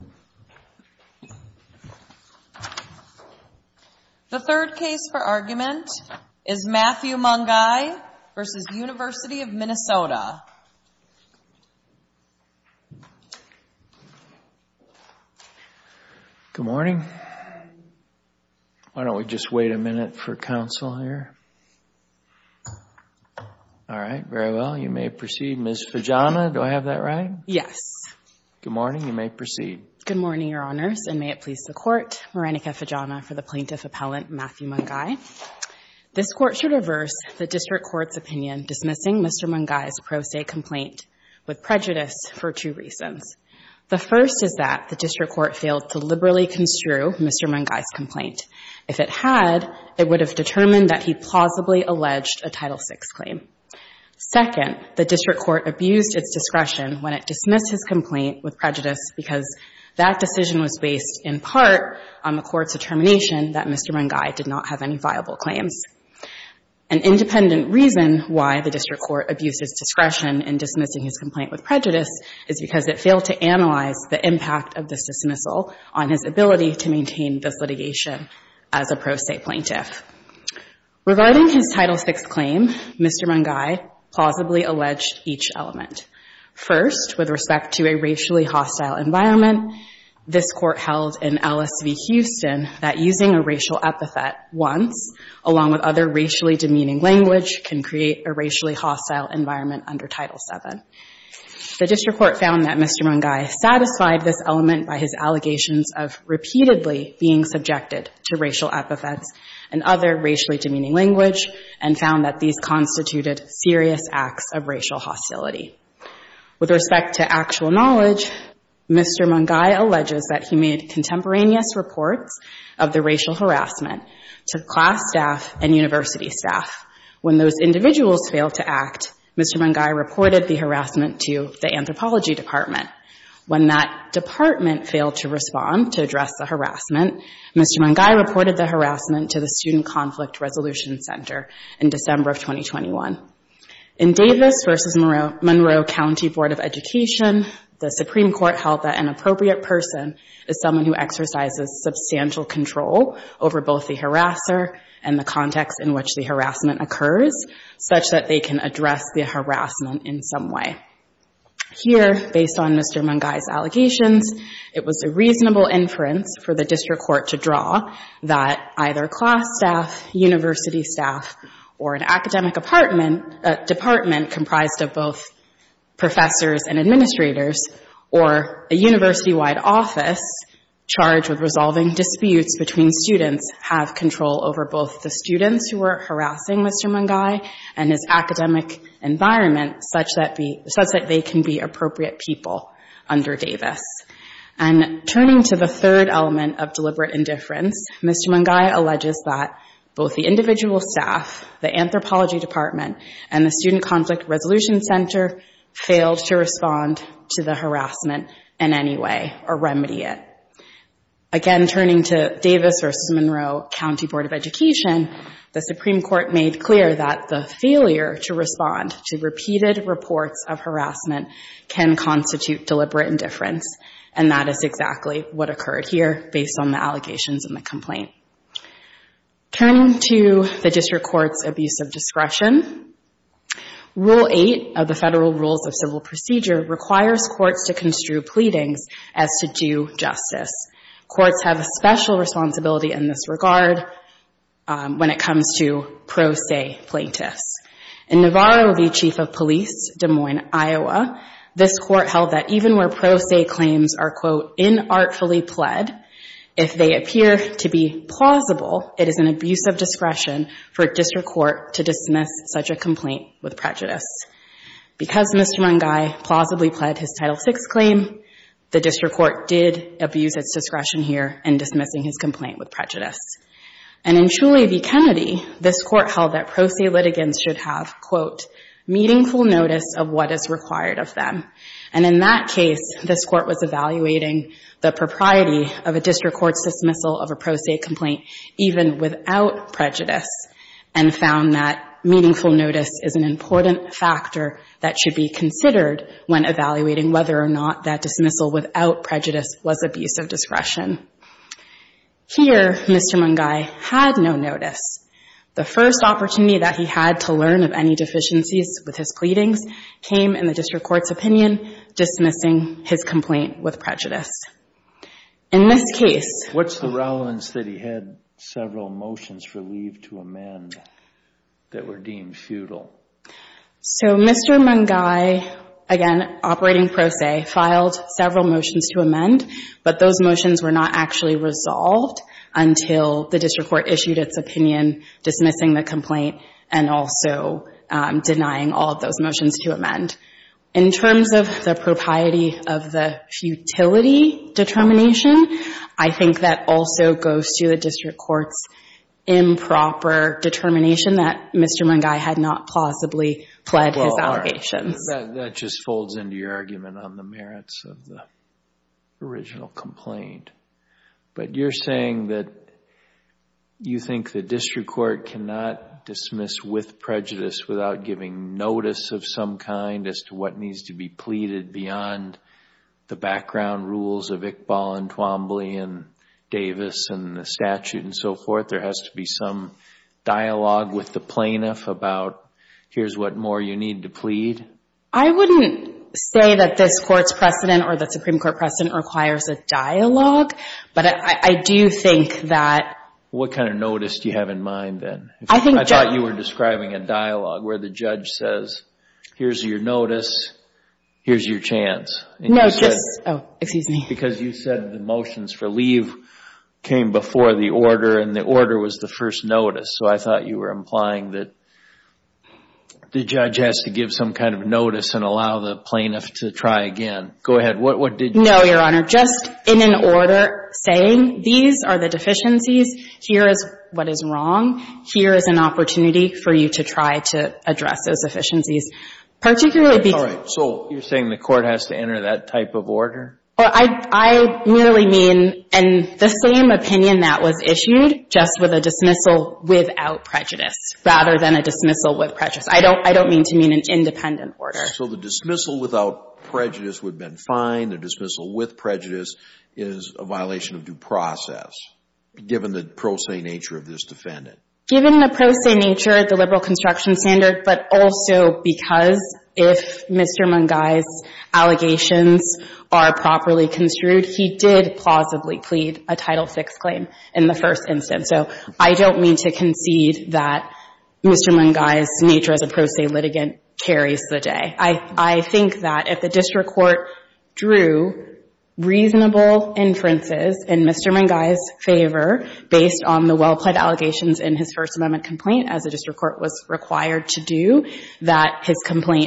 Good morning. Why don't we just wait a minute for counsel here? All right, very well. You may proceed. Good morning, Your Honors, and may it please the Court, Marenica Fajanah for the Plaintiff Appellant Matthew Mungai. This Court should reverse the District Court's opinion dismissing Mr. Mungai's Pro Se complaint with prejudice for two reasons. The first is that the District Court failed to liberally construe Mr. Mungai's complaint. If it had, it would have determined that he plausibly alleged a Title VI claim. Second, the District Court abused its discretion when it dismissed his complaint with prejudice because that decision was based in part on the Court's determination that Mr. Mungai did not have any viable claims. An independent reason why the District Court abused its discretion in dismissing his complaint with prejudice is because it failed to analyze the impact of this dismissal on his ability to maintain this litigation as a Pro Se Plaintiff. Regarding his Title VI claim, Mr. Mungai plausibly alleged each element. First, with respect to a racially hostile environment, this Court held in LSV Houston that using a racial epithet once, along with other racially demeaning language, can create a racially hostile environment under Title VII. The District Court found that Mr. Mungai satisfied this element by his allegations of repeatedly being subjected to racial epithets and other racially demeaning language and found that these constituted serious acts of racial hostility. With respect to actual knowledge, Mr. Mungai alleges that he made contemporaneous reports of the racial harassment to class staff and university staff. When those individuals failed to act, Mr. Mungai reported the harassment to the Anthropology Department. When that department failed to respond to address the harassment, Mr. Mungai reported the harassment to the Student Conflict Resolution Center in December of 2021. In Davis v. Monroe County Board of Education, the Supreme Court held that an appropriate person is someone who exercises substantial control over both the harasser and the context in which the harassment occurs such that they can address the harassment in some way. Here, based on Mr. Mungai's allegations, it was a reasonable inference for the District Court to draw that either class staff, university staff, or an academic department comprised of both professors and administrators or a university-wide office charged with resolving Mr. Mungai and his academic environment such that they can be appropriate people under Davis. And turning to the third element of deliberate indifference, Mr. Mungai alleges that both the individual staff, the Anthropology Department, and the Student Conflict Resolution Center failed to respond to the harassment in any way or remedy it. Again, turning to the District Court's abuse of discretion, Rule 8 of the Federal Rules of Civil Procedure requires courts to construe pleadings as to due justice. Courts have a special responsibility in this regard when it comes to pro se plaintiffs. In Navarro v. Chief of Police, Des Moines, Iowa, this Court held that even where pro se claims are, quote, inartfully pled, if they appear to be plausible, it is an abuse of discretion for a District Court to dismiss such a complaint with prejudice. Because Mr. Mungai plausibly pled his Title VI claim, the District Court did abuse its discretion here in dismissing his complaint with prejudice. And in Truly v. Kennedy, this Court held that pro se litigants should have, quote, meaningful notice of what is required of them. And in that case, this Court was evaluating the propriety of a District Court's dismissal of a pro se complaint even without prejudice and found that meaningful notice is an important factor that should be considered when evaluating whether or not that dismissal without prejudice was abuse of discretion. Here, Mr. Mungai had no notice. The first opportunity that he had to learn of any deficiencies with his pleadings came in the District Court's opinion, dismissing his complaint with prejudice. In this case... What's the relevance that he had several motions relieved to amend that were deemed futile? So, Mr. Mungai, again, operating pro se, filed several motions to amend, but those motions were not actually resolved until the District Court issued its opinion dismissing the complaint and also denying all of those motions to amend. In terms of the propriety of the futility determination, I think that also goes to the District Court's improper determination that Mr. Mungai had not plausibly pled his allegations. That just folds into your argument on the merits of the original complaint. But you're saying that you think the District Court cannot dismiss with prejudice without giving notice of some kind as to what needs to be pleaded beyond the background rules of Iqbal and Twombly and Davis and the statute and so forth. There has to be some dialogue with the plaintiff about here's what more you need to plead. I wouldn't say that this Court's precedent or the Supreme Court precedent requires a dialogue, but I do think that... What kind of notice do you have in mind then? I thought you were describing a dialogue where the judge says, here's your notice, here's your chance. No, just... Oh, excuse me. Because you said the motions for leave came before the order and the order was the first notice. So I thought you were implying that the judge has to give some kind of notice and allow the plaintiff to try again. Go ahead. What did you... No, Your Honor. Just in an order saying, these are the deficiencies, here is what is wrong, here is an opportunity for you to try to address those deficiencies. Particularly because... All right. So you're saying the Court has to enter that type of order? I merely mean, and the same opinion that was issued, just with a dismissal without prejudice rather than a dismissal with prejudice. I don't mean to mean an independent order. So the dismissal without prejudice would have been fine. The dismissal with prejudice is a violation of due process, given the prosaic nature of this defendant? Given the prosaic nature of the liberal construction standard, but also because if Mr. Mungai's allegations are properly construed, he did plausibly plead a Title VI claim in the first instance. So I don't mean to concede that Mr. Mungai's nature as a prosaic litigant carries the day. I think that if the district court drew reasonable inferences in Mr. Mungai's favor based on the well-plaid allegations in his First Amendment complaint, as the district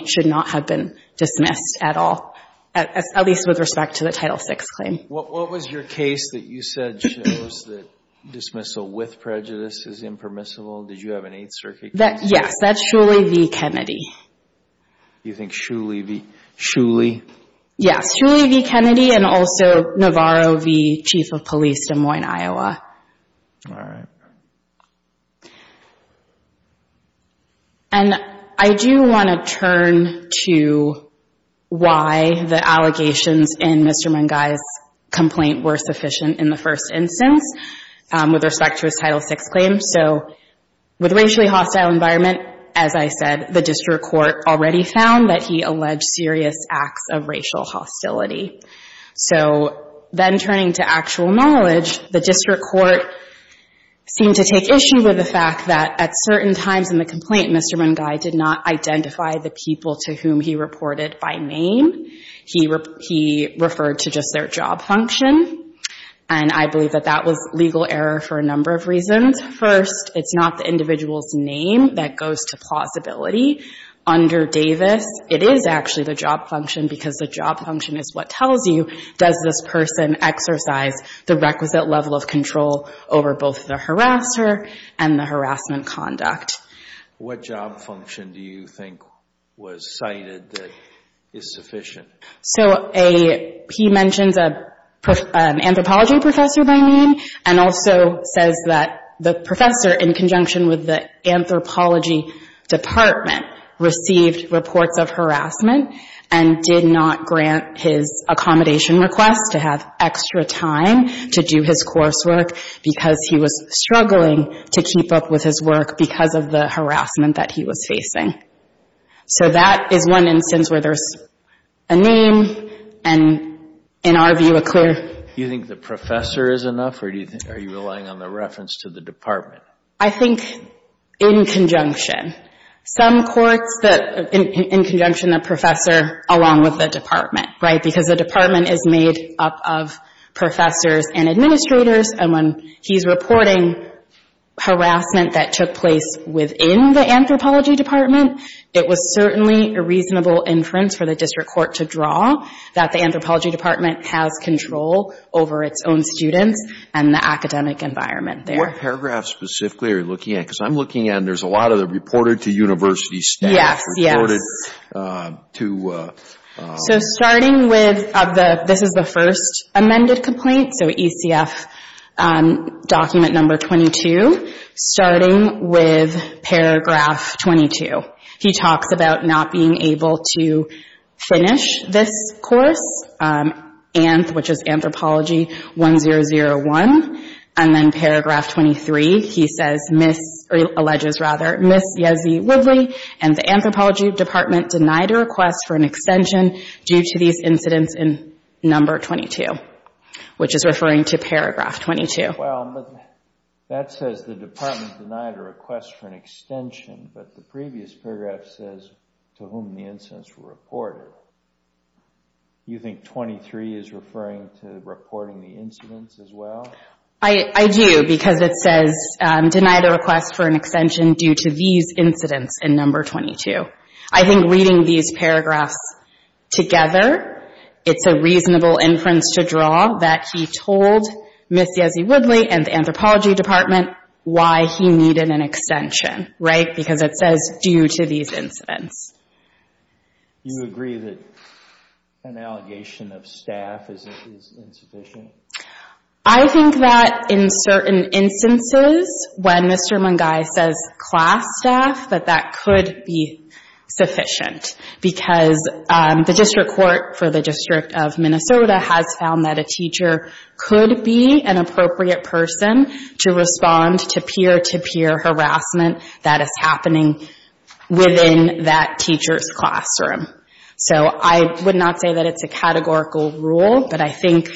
should not have been dismissed at all, at least with respect to the Title VI claim. What was your case that you said shows that dismissal with prejudice is impermissible? Did you have an Eighth Circuit case? Yes. That's Shuley v. Kennedy. You think Shuley v. Kennedy? Yes. Shuley v. Kennedy and also Navarro v. Chief of Police, Des Moines, Iowa. All right. And I do want to turn to why the allegations in Mr. Mungai's complaint were sufficient in the first instance with respect to his Title VI claim. So with racially hostile environment, as I said, the district court already found that he alleged serious acts of racial hostility. So then turning to actual knowledge, the district court seemed to take issue with the fact that at certain times in the complaint, Mr. Mungai did not identify the people to whom he reported by name. He referred to just their job function. And I believe that that was legal error for a number of reasons. First, it's not the individual's name that goes to plausibility. Under Davis, it is actually the job function because the job function is what tells you does this person exercise the requisite level of control over both the harasser and the harassment conduct. What job function do you think was cited that is sufficient? So he mentions an anthropology professor by name and also says that the professor in conjunction with the anthropology department received reports of harassment and did not grant his accommodation request to have extra time to do his coursework because he was struggling to keep up with his work because of the harassment that he was facing. So that is one instance where there's a name and, in our view, a clear... You think the professor is enough or are you relying on the reference to the department? I think in conjunction. Some courts that, in conjunction, the professor along with the department, right, because the department is made up of professors and administrators and when he's reporting harassment that took place within the anthropology department, it was certainly a reasonable inference for the district court to draw that the anthropology department has control over its own students and the academic environment there. What paragraph specifically are you looking at? Because I'm looking at, there's a lot of the reported to university status. Yes, yes. So starting with, this is the first amended complaint, so ECF document number 22, starting with paragraph 22. He talks about not being able to finish this course, which is Anthropology 1001, and then paragraph 23, he says, or alleges rather, Ms. Yezi Woodley and the anthropology department denied a request for an extension due to these incidents in number 22, which is referring to paragraph 22. Well, that says the department denied a request for an extension, but the previous paragraph says to whom the incidents were reported. Do you think 23 is referring to reporting the incidents as well? I do, because it says denied a request for an extension due to these incidents in number 22. I think reading these paragraphs together, it's a reasonable inference to draw that he told Ms. Yezi Woodley and the anthropology department why he needed an extension, right, because it says due to these incidents. You agree that an allegation of staff is insufficient? I think that in certain instances, when Mr. Mungai says class staff, that that could be sufficient, because the district court for the District of Minnesota has found that a teacher could be an appropriate person to respond to peer-to-peer harassment that is happening within that teacher's classroom. So I would not say that it's a categorical rule, but I think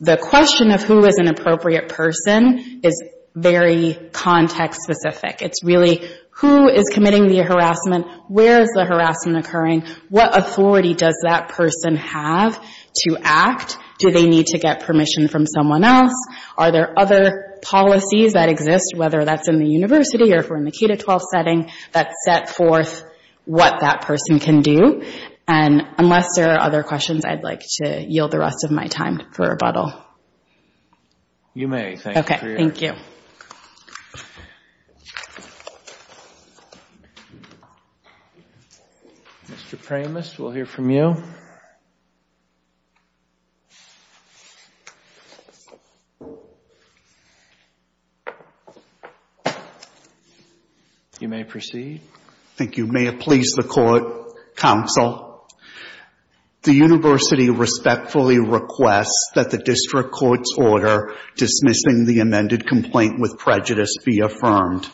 the question of who is an appropriate person is very context-specific. It's really who is committing the harassment, where is the harassment occurring, what authority does that person have to act, do they need to get permission from someone else, are there other policies that exist, whether that's in the university or if we're in the K-12 setting, that set forth what that person can do. And unless there are other questions, I'd like to yield the rest of my time for rebuttal. You may, thank you for your time. Okay, thank you. Mr. Premis, we'll hear from you. You may proceed. Thank you. May it please the Court, Counsel, the university respectfully requests that the district court's order dismissing the amended complaint with prejudice be affirmed.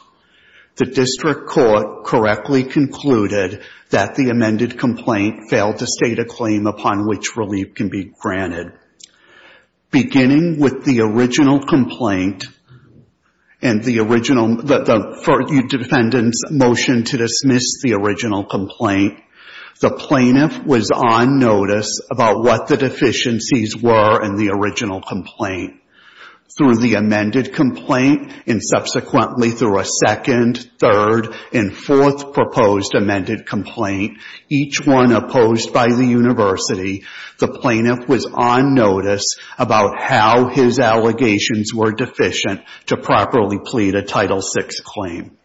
The district court correctly concluded that the amended complaint failed to state a claim upon which relief can be granted. Beginning with the original complaint and the original – the defendant's motion to dismiss the original complaint, the plaintiff was on notice about what the deficiencies were in the original complaint. Through the amended complaint and subsequently through a second, third, and fourth proposed amended complaint, each one opposed by the university, the plaintiff was on notice about how his allegations were deficient to properly plead a Title VI claim.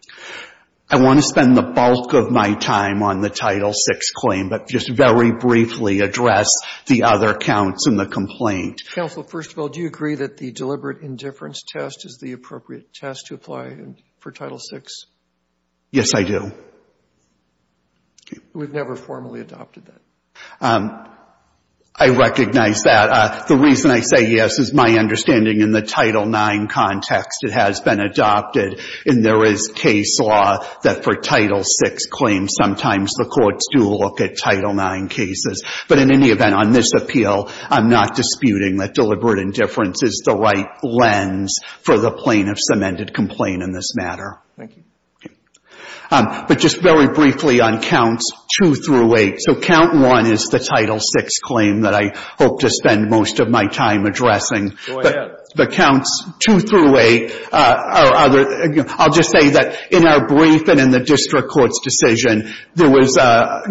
I want to spend the bulk of my time on the Title VI claim, but just very briefly address the other counts in the complaint. Counsel, first of all, do you agree that the deliberate indifference test is the appropriate test to apply for Title VI? Yes, I do. We've never formally adopted that. I recognize that. The reason I say yes is my understanding in the Title IX context it has been adopted and there is case law that for Title VI claims, sometimes the courts do look at Title IX cases. But in any event, on this appeal, I'm not disputing that deliberate indifference is the right lens for the plaintiff's amended complaint in this matter. Thank you. But just very briefly on counts two through eight. So count one is the Title VI claim that I hope to spend most of my time addressing. Go ahead. The counts two through eight are other, I'll just say that in our brief and in the district court's decision, there was a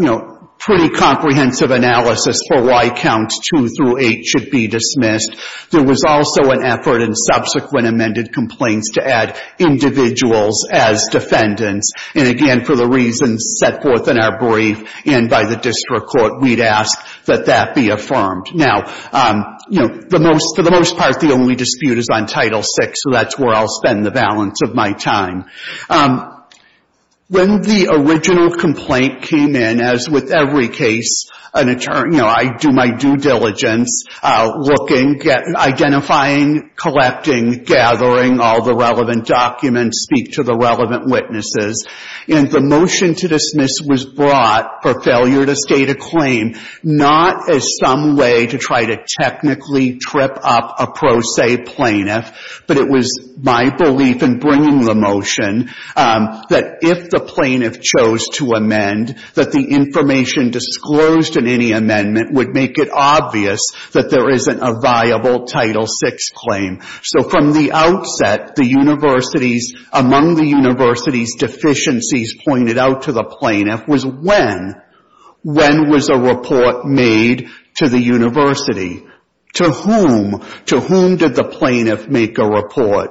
pretty comprehensive analysis for why counts two through eight should be dismissed. There was also an effort in subsequent amended complaints to add individuals as defendants. And again, for the reasons set forth in our brief and by the district court, we'd ask that that be affirmed. Now, you know, for the most part, the only dispute is on Title VI, so that's where I'll spend the balance of my time. When the original complaint came in, as with every case, you know, I do my due diligence looking, identifying, collecting, gathering all the relevant documents, speak to the relevant witnesses. And the motion to dismiss was brought for failure to state a claim, not as some way to try to technically trip up a pro se plaintiff, but it was my belief in bringing the motion that if the plaintiff chose to amend, that the information disclosed in any amendment would make it obvious that there isn't a viable Title VI claim. So from the outset, among the university's deficiencies pointed out to the plaintiff was when. When was a report made to the university? To whom? To whom did the plaintiff make a report?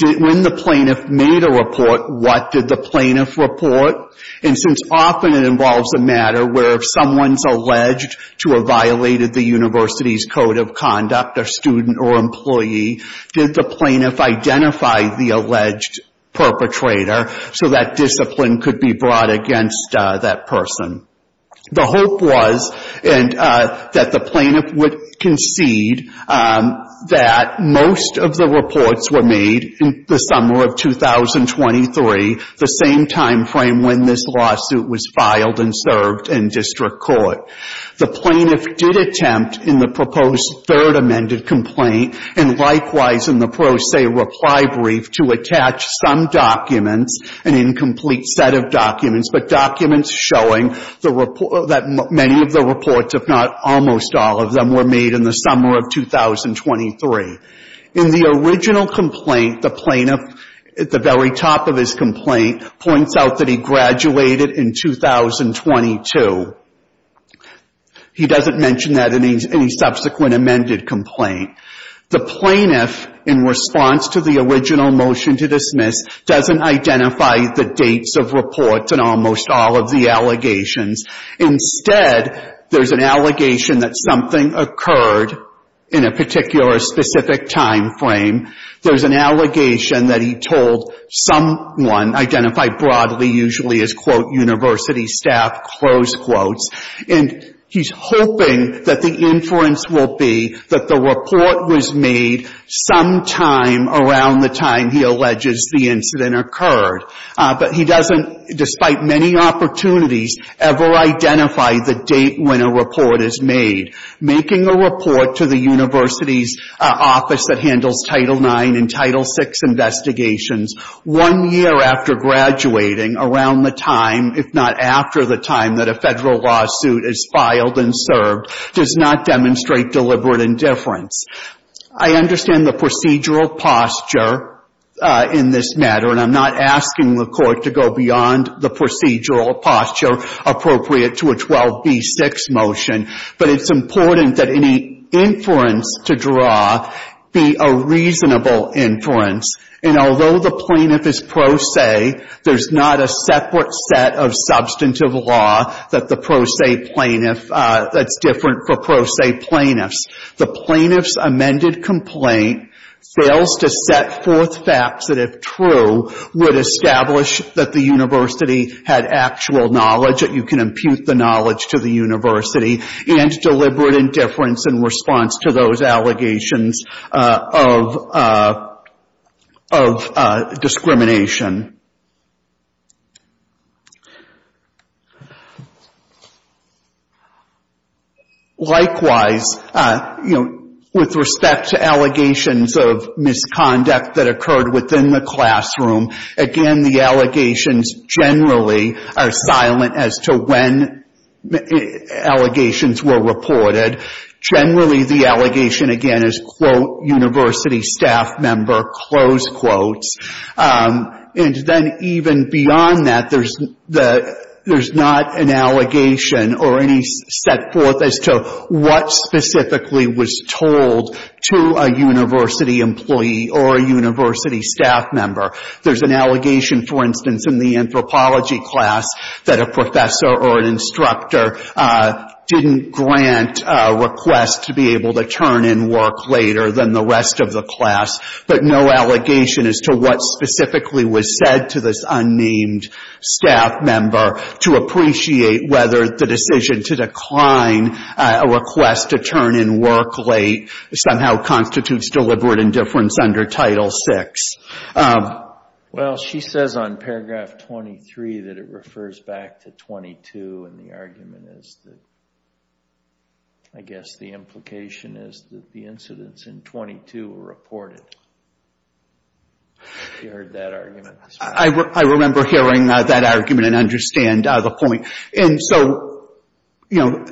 When the plaintiff made a report, what did the plaintiff report? And since often it involves a matter where if someone's alleged to have violated the university's code of conduct, a student or employee, did the plaintiff identify the alleged perpetrator so that discipline could be brought against that person? The hope was that the plaintiff would concede that most of the reports were made in the same time frame when this lawsuit was filed and served in district court. The plaintiff did attempt in the proposed third amended complaint and likewise in the pro se reply brief to attach some documents, an incomplete set of documents, but documents showing the report that many of the reports, if not almost all of them, were made in the summer of 2023. In the original complaint, the plaintiff at the very top of his complaint points out that he graduated in 2022. He doesn't mention that in any subsequent amended complaint. The plaintiff, in response to the original motion to dismiss, doesn't identify the dates of reports in almost all of the allegations. Instead, there's an allegation that something occurred in a particular specific time frame. There's an allegation that he told someone, identified broadly usually as, quote, university staff, close quotes. And he's hoping that the inference will be that the report was made sometime around the time he alleges the incident occurred. But he doesn't, despite many opportunities, ever identify the date when a report is made. Making a report to the university's office that handles Title IX and Title VI investigations one year after graduating, around the time, if not after the time that a federal lawsuit is filed and served, does not demonstrate deliberate indifference. I understand the procedural posture in this matter, and I'm not asking the court to go beyond the procedural posture appropriate to a 12B6 motion. But it's important that any inference to draw be a reasonable inference. And although the plaintiff is pro se, there's not a separate set of substantive law that the pro se plaintiff, that's different for pro se plaintiffs. The plaintiff's amended complaint fails to set forth facts that, if true, would establish that the university had actual knowledge, that you can impute the knowledge to the university, and deliberate indifference in response to those allegations of discrimination. Likewise, you know, with respect to allegations of misconduct that occurred within the class, again, the allegations generally are silent as to when allegations were reported. Generally the allegation, again, is, quote, university staff member, close quotes. And then even beyond that, there's not an allegation or any set forth as to what specifically was said. There's an allegation, for instance, in the anthropology class that a professor or an instructor didn't grant a request to be able to turn in work later than the rest of the class, but no allegation as to what specifically was said to this unnamed staff member to appreciate whether the decision to decline a request to turn in work late somehow constitutes deliberate indifference under Title VI. Well, she says on paragraph 23 that it refers back to 22, and the argument is that, I guess, the implication is that the incidents in 22 were reported. Have you heard that argument? I remember hearing that argument and understand the point. And so, you know,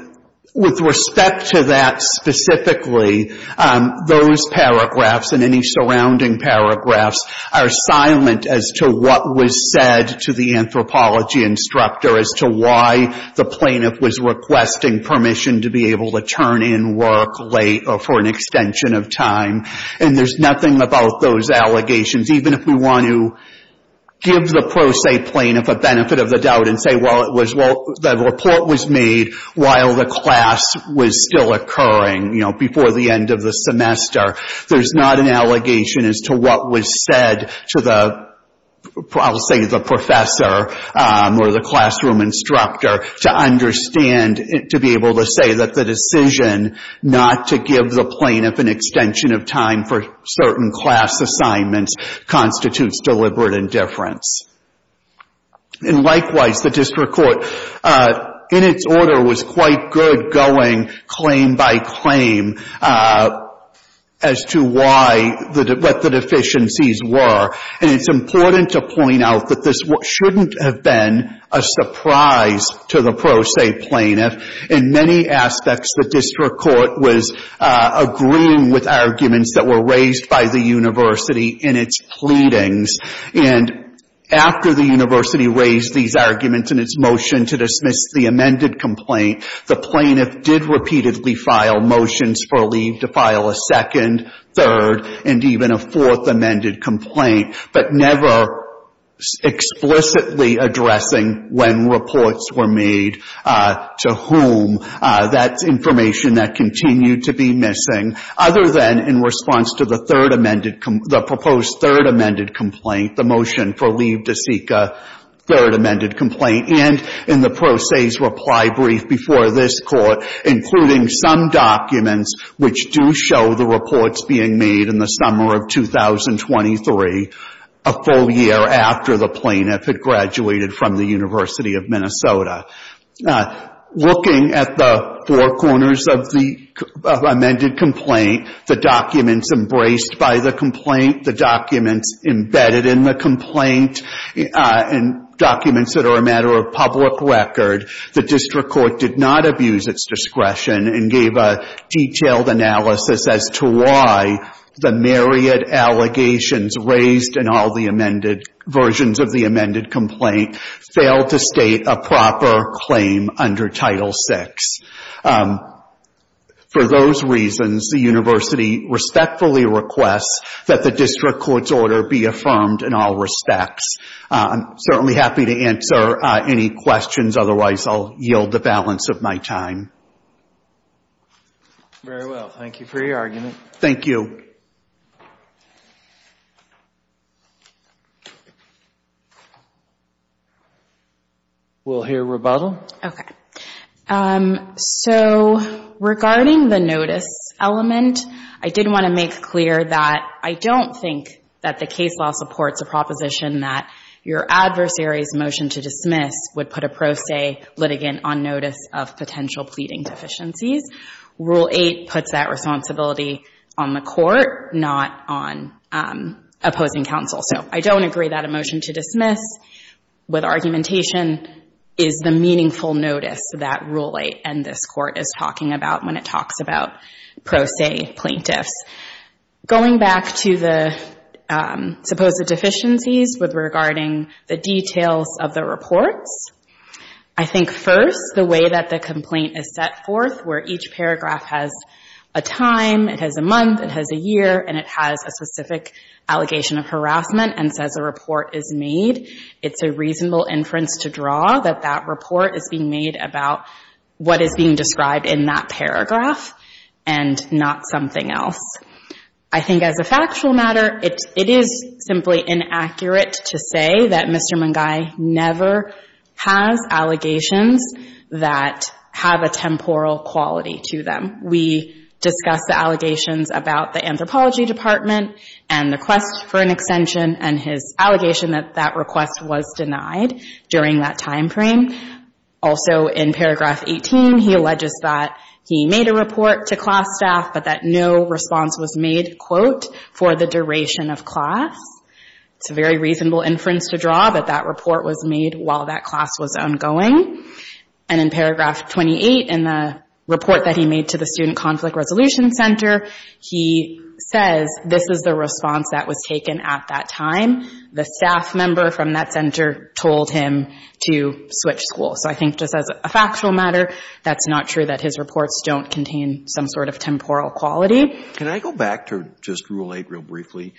with respect to that specifically, those paragraphs and any surrounding paragraphs are silent as to what was said to the anthropology instructor as to why the plaintiff was requesting permission to be able to turn in work late or for an extension of time. And there's nothing about those allegations, even if we want to give the pro se plaintiff a benefit of the doubt and say, well, the report was made while the class was still occurring, you know, before the end of the semester. There's not an allegation as to what was said to the, I'll say, the professor or the classroom instructor to understand, to be able to say that the decision not to give the plaintiff an extension of time for certain class assignments constitutes deliberate indifference. And, likewise, the district court, in its order, was quite good going claim by claim as to why, what the deficiencies were. And it's important to point out that this shouldn't have been a surprise to the pro se plaintiff. In many aspects, the district court was agreeing with arguments that were raised by the university in its pleadings. And after the university raised these arguments in its motion to dismiss the amended complaint, the plaintiff did repeatedly file motions for leave to file a second, third, and even a fourth amended complaint, but never explicitly addressing when reports were made to whom. That's information that continued to be missing, other than in response to the third amended, the proposed third amended complaint, the motion for leave to seek a third amended complaint, and in the pro se's reply brief before this court, including some documents which do show the reports being made in the summer of 2023, a full year after the plaintiff had graduated from the University of Minnesota. Looking at the four corners of the amended complaint, the documents embraced by the complaint, the documents embedded in the complaint, and documents that are a matter of public record, the district court did not abuse its discretion and gave a detailed analysis as to why the myriad allegations raised in all the amended versions of the amended complaint failed to state a proper claim under Title VI. For those reasons, the university respectfully requests that the district court's order be affirmed in all respects. I'm certainly happy to answer any questions. Otherwise, I'll yield the balance of my time. Very well. Thank you for your argument. Thank you. We'll hear rebuttal. Okay. So, regarding the notice element, I did want to make clear that I don't think that the case law supports a proposition that your adversary's motion to dismiss would put a pro se litigant on notice of potential pleading deficiencies. Rule 8 puts that responsibility on the court, not on opposing counsel. So, I don't agree that a motion to dismiss with argumentation is the meaningful notice that Rule 8 and this court is talking about when it talks about pro se plaintiffs. Going back to the supposed deficiencies regarding the details of the reports, I think first the way that the complaint is set forth where each paragraph has a time, it has a month, it has a year, and it has a specific allegation of harassment and says a report is made, it's a reasonable inference to draw that that report is being made about what is being described in that paragraph and not something else. I think as a factual matter, it is simply inaccurate to say that Mr. Mungai never has allegations that have a temporal quality to them. We discussed the allegations about the Anthropology Department and the quest for an extension and his allegation that that quest was denied during that time frame. Also, in paragraph 18, he alleges that he made a report to class staff, but that no response was made, quote, for the duration of class. It's a very reasonable inference to draw that that report was made while that class was ongoing. And in paragraph 28, in the report that he made to the Student Conflict Resolution Center, he says this is the response that was taken at that time. The staff member from that center told him to switch schools. So I think just as a factual matter, that's not true that his reports don't contain some sort of temporal quality. Can I go back to just Rule 8 real briefly?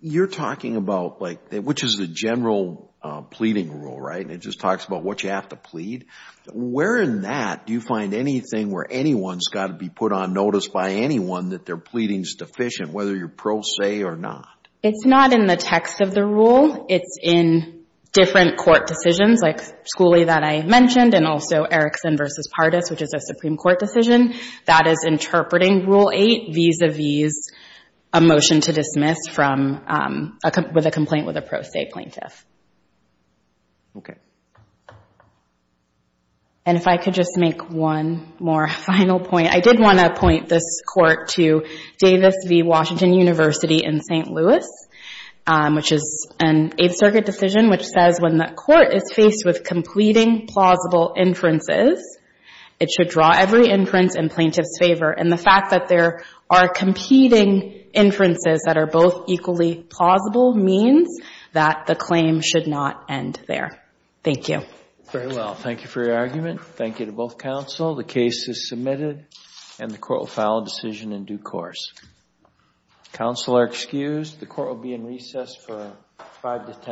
You're talking about, like, which is the general pleading rule, right? It just talks about what you have to plead. Where in that do you find anything where anyone's got to be put on notice by anyone that their pleading's deficient, whether you're pro se or not? It's not in the text of the rule. It's in different court decisions, like Schooley that I mentioned and also Erickson v. Pardis, which is a Supreme Court decision that is interpreting Rule 8 vis-a-vis a motion to dismiss with a complaint with a pro se plaintiff. And if I could just make one more final point. I did want to point this court to Davis v. Washington University in St. Louis, which is an Eighth Circuit decision, which says when the court is faced with completing plausible inferences, it should draw every inference in plaintiff's favor. And the fact that there are competing inferences that are both equally plausible means that the claim should not end there. Thank you. Very well. Thank you for your argument. Thank you to both counsel. The case is submitted and the court will file a decision in due course. Counsel are excused. The court will be in recess for five to ten minutes.